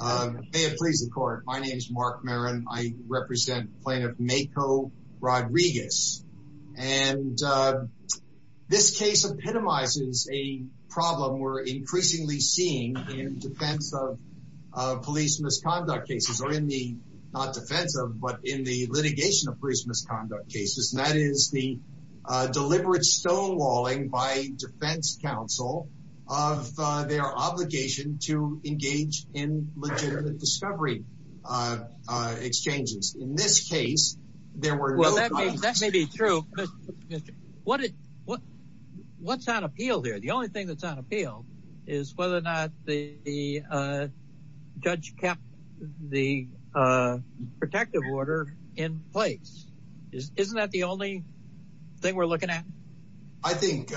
May it please the court. My name is Mark Marin. I represent Plaintiff Mayco Rodriguez and this case epitomizes a problem we're increasingly seeing in defense of police misconduct cases or in the not defensive but in the litigation of police misconduct cases and that is the discovery exchanges in this case there were well that may be true but what it what what's on appeal there the only thing that's on appeal is whether or not the judge kept the protective order in place isn't that the only thing we're looking at I think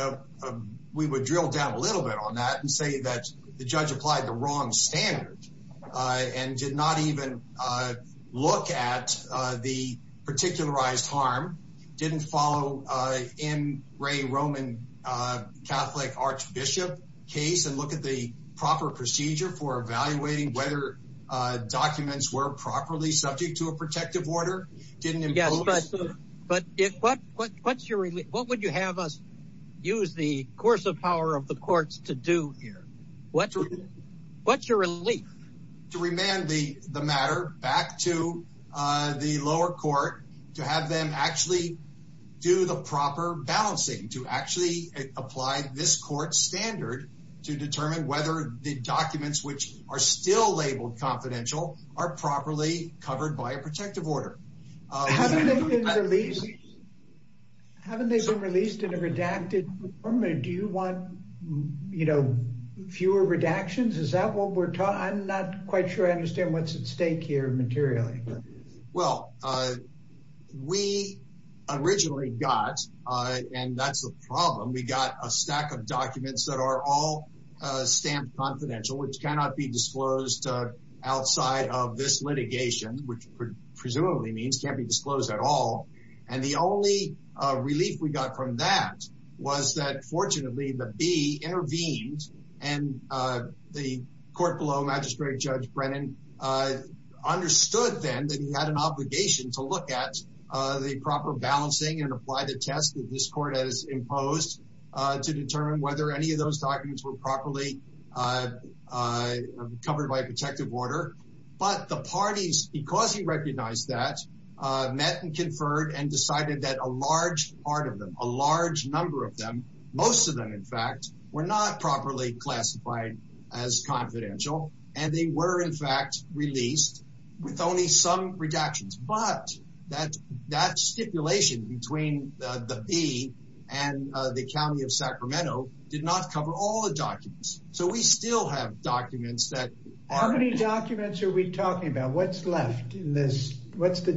we would drill down a little bit on that and say that the wrong standard and did not even look at the particularized harm didn't follow in Ray Roman Catholic Archbishop case and look at the proper procedure for evaluating whether documents were properly subject to a protective order didn't get but if what what what's your relief what would you have us use the course of power of the courts to do here what what's your relief to remand the the matter back to the lower court to have them actually do the proper balancing to actually apply this court standard to determine whether the documents which are still labeled confidential are properly covered by a you want you know fewer redactions is that what we're taught I'm not quite sure I understand what's at stake here materially well we originally got and that's the problem we got a stack of documents that are all stamped confidential which cannot be disclosed outside of this litigation which presumably means can't be disclosed at all and the only relief we got from that was that fortunately the B intervened and the court below magistrate judge Brennan understood then that he had an obligation to look at the proper balancing and apply the test that this court has imposed to determine whether any of those documents were properly covered by a protective order but the parties because he recognized that met and conferred and decided that a large part of them a large number of them most of them in fact we're not properly classified as confidential and they were in fact released with only some redactions but that that stipulation between the P and the county of Sacramento did not cover all the documents so we still have documents that how many documents are we talking about what's left in this what's the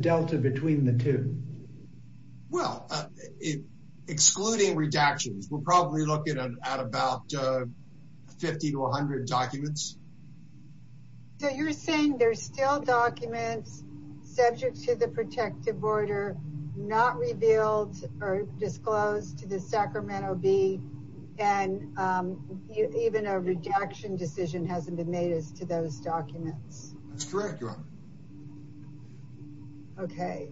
excluding redactions we're probably looking at about 50 to 100 documents so you're saying there's still documents subject to the protective order not revealed or disclosed to the Sacramento B and even a redaction decision hasn't been made as to those documents that's correct okay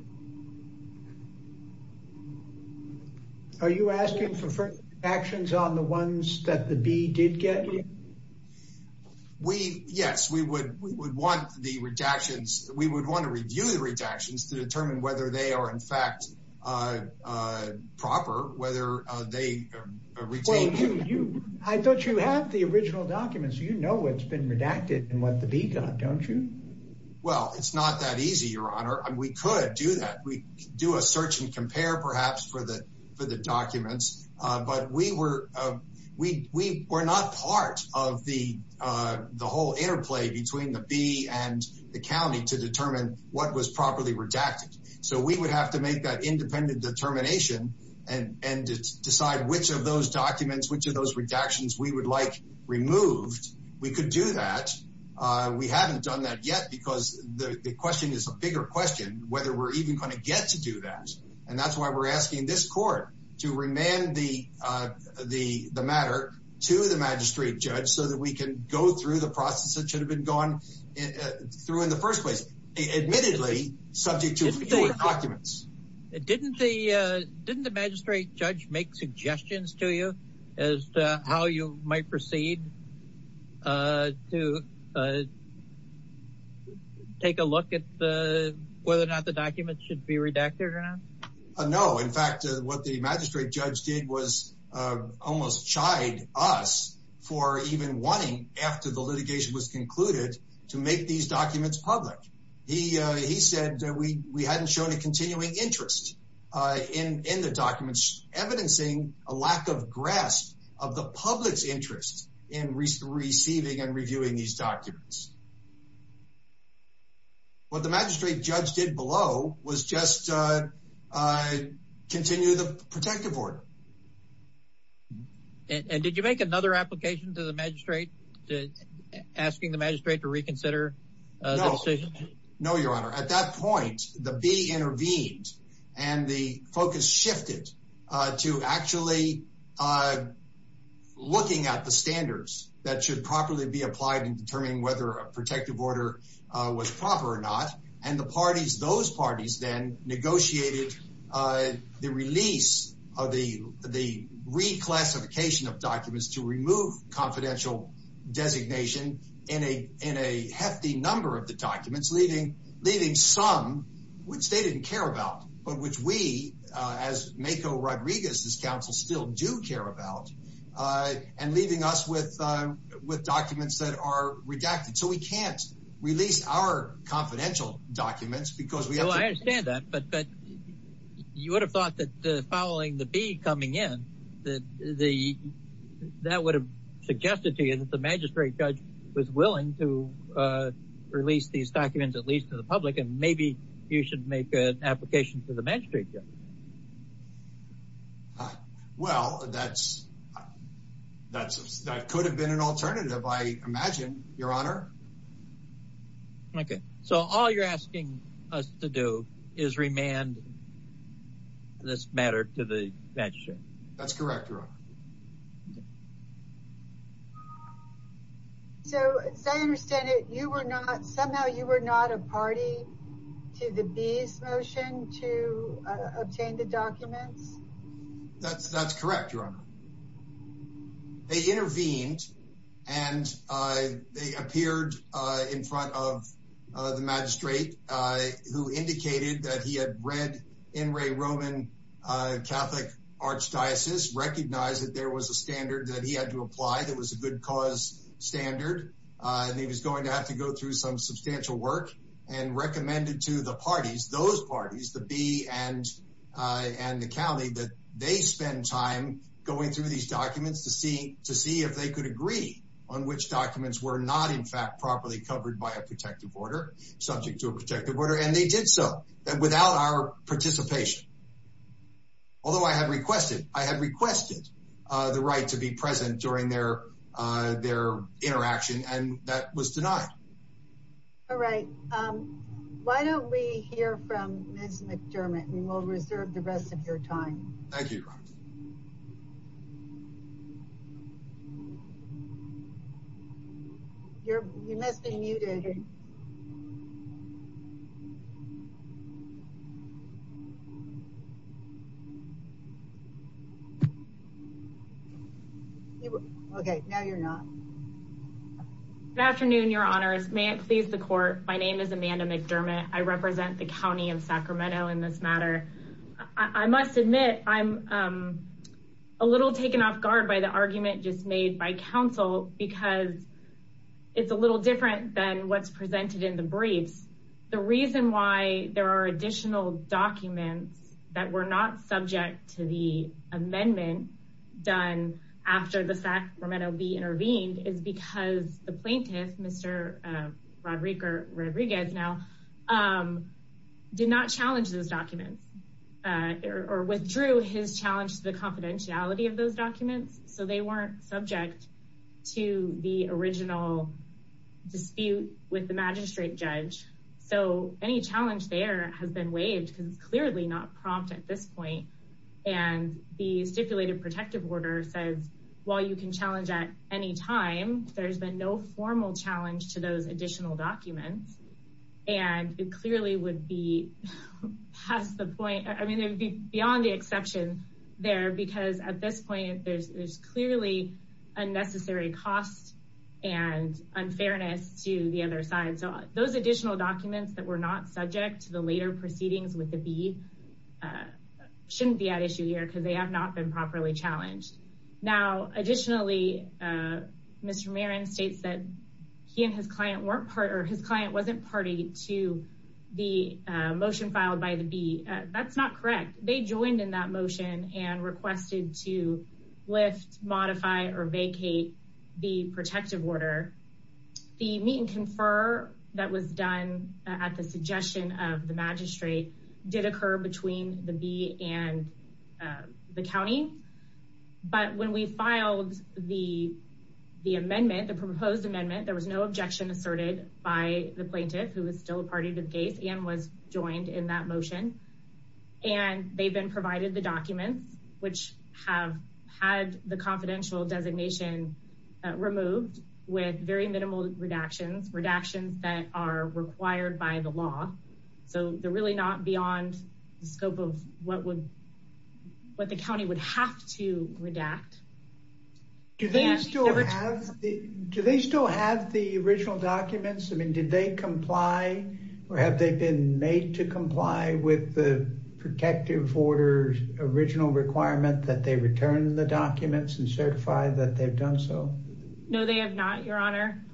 are you asking for actions on the ones that the B did get we yes we would we would want the redactions we would want to review the redactions to determine whether they are in fact proper whether they retain you I thought you have the original documents you know what's been redacted and what the B got don't you well it's not that easy your honor and we could do that we do a search and compare perhaps for the for the documents but we were we we were not part of the the whole interplay between the B and the county to determine what was properly redacted so we would have to make that independent determination and and decide which of those documents which of those redactions we would like removed we could do that we haven't done that yet because the question is a bigger question whether we're even going to get to do that and that's why we're asking this court to remand the the the matter to the magistrate judge so that we can go through the process that should have been gone through in the first place admittedly subject to documents it didn't the didn't the magistrate judge make suggestions to you as to how you might proceed to take a look at the whether or not the documents should be redacted or not no in fact what the magistrate judge did was almost shied us for even wanting after the litigation was concluded to make these documents public he he said that we we hadn't shown a continuing interest in the documents evidencing a lack of grasp of the public's interest in recent receiving and reviewing these documents what the magistrate judge did below was just continue the protective order and did you make another application to the magistrate asking the magistrate to reconsider no your honor at that point the B intervened and the focus shifted to actually looking at the standards that should properly be applied in determining whether a protective order was proper or not and the parties those parties then negotiated the release of the the reclassification of documents to remove confidential designation in a in of the documents leaving leaving some which they didn't care about but which we as Mako Rodriguez this council still do care about and leaving us with with documents that are redacted so we can't release our confidential documents because we understand that but but you would have thought that following the B coming in that the that would have suggested to you that the magistrate was willing to release these documents at least to the public and maybe you should make an application to the magistrate yeah well that's that could have been an alternative I imagine your honor okay so all you're asking us to do is remand this matter to the that's correct so I understand it you were not somehow you were not a party to the bees motion to obtain the documents that's that's correct your honor they intervened and they appeared in front of the magistrate who indicated that he had read in Ray Roman Catholic Archdiocese recognized that there was a standard that he had to apply that was a good cause standard and he was going to have to go through some substantial work and recommended to the parties those parties to be and and the county that they spend time going through these documents to to see if they could agree on which documents were not in fact properly covered by a protective order subject to a protective order and they did so and without our participation although I had requested I had requested the right to be present during their their interaction and that was denied all right why don't we hear from mr. McDermott we will reserve the rest of your time you're missing you didn't okay now you're not good afternoon your honors may it please the court my name is Amanda McDermott I represent the county of Sacramento in this matter I must admit I'm a little taken off guard by the argument just made by counsel because it's a little different than what's presented in the briefs the reason why there are additional documents that were not subject to the amendment done after the Sacramento be intervened is because the plaintiff mr. Roderick or Rodriguez now did not challenge those documents or withdrew his challenge to the confidentiality of those documents so they weren't subject to the original dispute with the magistrate judge so any challenge there has been waived because it's clearly not prompt at this point and the stipulated protective order says while you can challenge at any time there's been no formal challenge to those additional documents and it clearly would be has the point I mean it would be beyond the exception there because at this point there's clearly unnecessary cost and unfairness to the other side so those additional documents that were not subject to the later proceedings with the B shouldn't be at issue here because they have not been properly challenged now additionally mr. Marin states that he and his client weren't part or his client wasn't party to the motion filed by the B that's not correct they joined in that motion and requested to lift modify or vacate the protective order the meet-and-confer that was done at the suggestion of the magistrate did occur between the B and the county but when we filed the the amendment the proposed amendment there was no objection asserted by the plaintiff who is still a party to the case and was joined in that motion and they've been provided the documents which have had the confidential designation removed with very minimal redactions redactions that are required by the law so they're really not beyond the scope of what would what the county would have to redact do they still have the original documents I mean did they comply or have they been made to comply with the protective orders original requirement that they return the documents and certify that they've done so no they have not your honor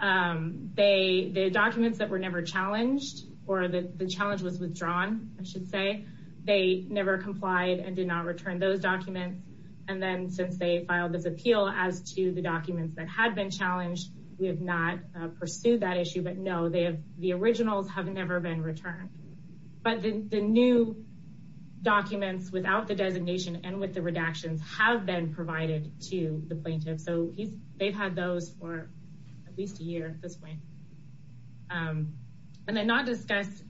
they the documents that were never challenged or that the challenge was withdrawn I should say they never complied and did not return those documents and then since they filed this appeal as to the documents that had been challenged we have not pursued that issue but no they have the originals have never been returned but the new documents without the designation and with the redactions have been provided to the plaintiff so he's had those for at least a year this way and then not discussed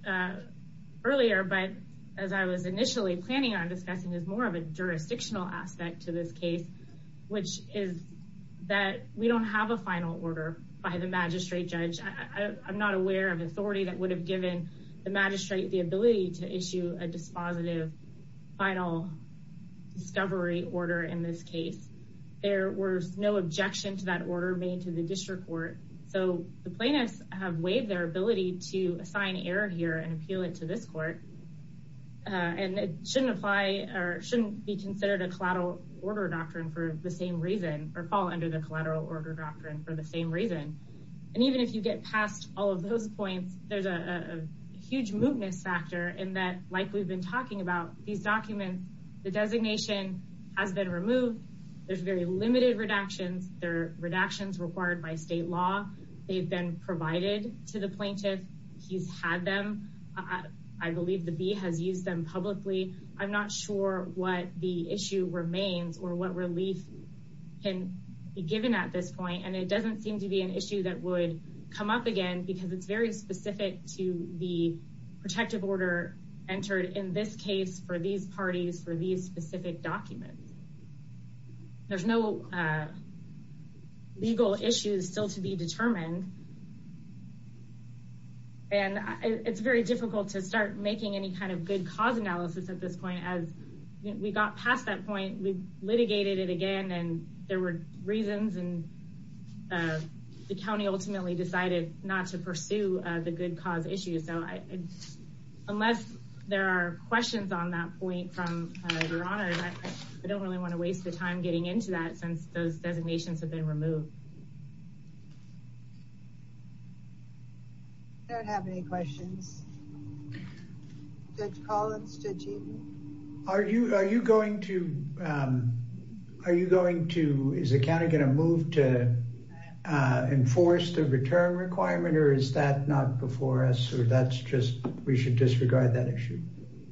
earlier but as I was initially planning on discussing is more of a jurisdictional aspect to this case which is that we don't have a final order by the magistrate judge I'm not aware of authority that would have given the magistrate the ability to issue a order made to the district court so the plaintiffs have waived their ability to assign error here and appeal it to this court and it shouldn't apply or shouldn't be considered a collateral order doctrine for the same reason or fall under the collateral order doctrine for the same reason and even if you get past all of those points there's a huge mootness factor in that like we've been talking about these documents the designation has been removed there's very limited redactions their redactions required by state law they've been provided to the plaintiff he's had them I believe the bee has used them publicly I'm not sure what the issue remains or what relief can be given at this point and it doesn't seem to be an issue that would come up again because it's very specific to the protective order entered in this case for these parties for these specific documents there's no legal issues still to be determined and it's very difficult to start making any kind of good cause analysis at this point as we got past that point we litigated it again and there were reasons and the county ultimately decided not to pursue the good cause issue so I unless there are questions on that point from your honor I don't really want to waste the time getting into that since those designations have been removed are you are you going to are you going to is a that's just we should disregard that issue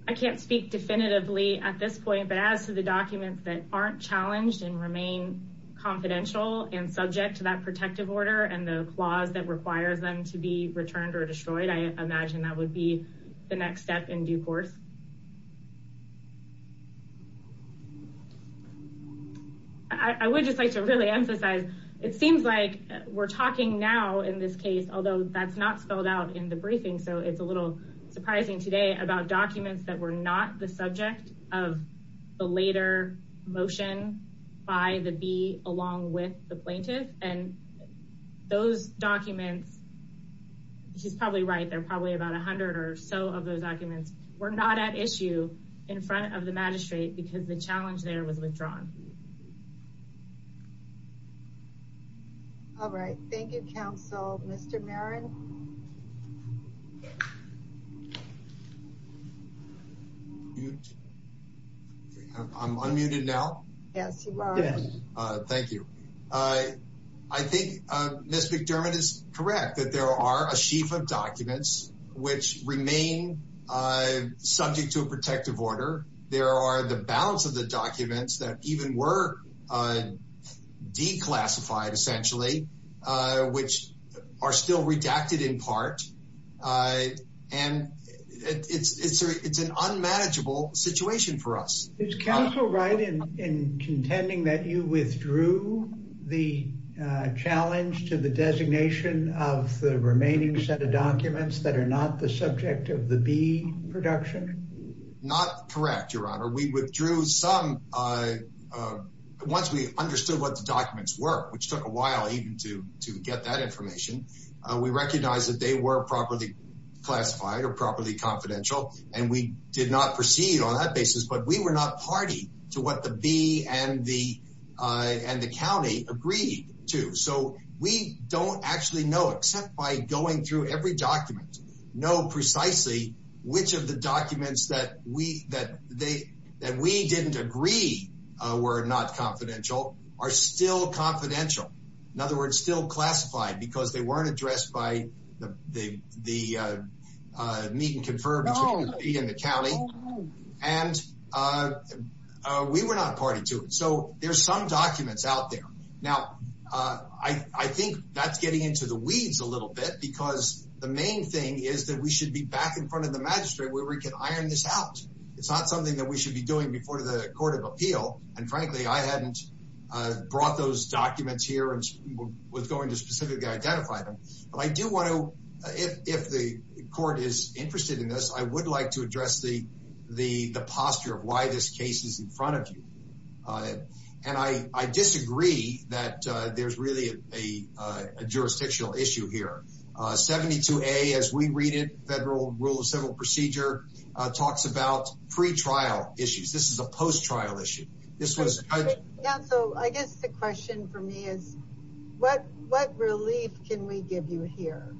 I can't speak definitively at this point but as to the documents that aren't challenged and remain confidential and subject to that protective order and the clause that requires them to be returned or destroyed I imagine that would be the next step in due course I would just like to really emphasize it seems like we're talking now in this case although that's not spelled out in the briefing so it's a little surprising today about documents that were not the subject of the later motion by the bee along with the plaintiff and those documents she's probably right there probably about a hundred or so of those documents were not at issue in front of the magistrate because the challenge there was withdrawn all right thank you counsel mr. Merrin I'm unmuted now yes thank you I I think mr. McDermott is correct that there are a sheaf of documents which remain subject to a protective order there are the balance of the documents that even were declassified essentially which are still redacted in part and it's it's an unmanageable situation for us it's counsel right in contending that you withdrew the challenge to the designation of the remaining set of documents that are not the subject of the bee production not correct your honor we withdrew some uh once we understood what the documents were which took a while even to to get that information we recognized that they were properly classified or properly confidential and we did not proceed on that basis but we were not party to what the bee and the uh and the county agreed to so we don't actually know except by going through every document know precisely which of the documents that we that they that we didn't agree uh were not confidential are still confidential in other words still classified because they weren't addressed by the the uh uh meet and confer between the bee and the county and uh uh we were not party to it so there's some documents out there now uh I I think that's getting into the weeds a little bit because the main thing is that we should be back in front of the magistrate where we can iron this out it's not something that we should be doing before the court of appeal and frankly I hadn't uh brought those documents here and was going to specifically identify them but I do want to if if the court is interested in this I would like to address the the the posture of why this case is in front of you uh and I I disagree that uh there's really a uh jurisdictional issue here uh 72a as we read it federal rule of civil procedure uh talks about pre-trial issues this is a post-trial issue this was yeah so I guess the question for me is what what relief can we give you here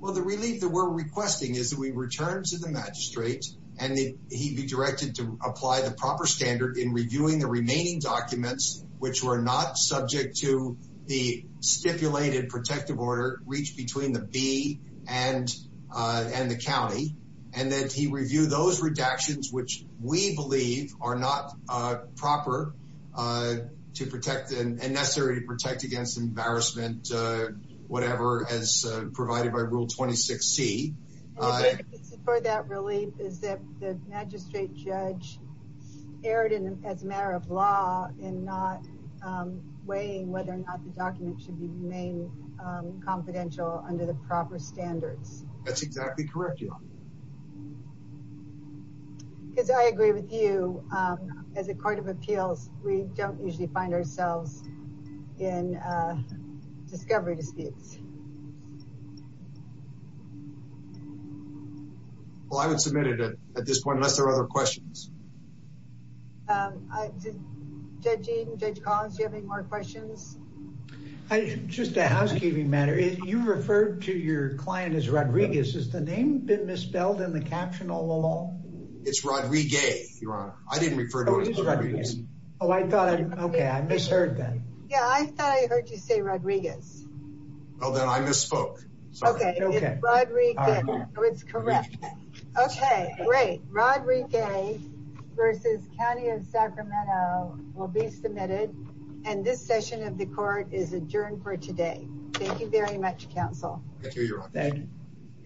well the relief that we're requesting is that we return to the magistrate and he'd be directed to apply the proper standard in reviewing the remaining documents which were not subject to the stipulated protective order reached between the b and uh and the county and then he reviewed those redactions which we believe are not uh proper uh to protect and necessary to protect against embarrassment uh whatever as provided by rule 26c for that relief is that the magistrate judge erred in as a matter of law and not um weighing whether or not the document should be remain confidential under the proper standards that's exactly correct you because I agree with you um as a court of appeals we don't usually find ourselves in uh discovery disputes well I would submit it at this point unless there are other questions um I did judging judge Collins do you have any more questions I just a housekeeping matter you referred to your client as Rodriguez is the name been misspelled in the caption all along it's Rodriguez your honor I didn't refer to it oh I thought okay I misheard that yeah I thought I heard you say Rodriguez well then I misspoke okay it's Rodriguez so it's correct okay great Rodriguez versus county of Sacramento will be submitted and this session of the court is adjourned for today thank you very much counsel thank you thank you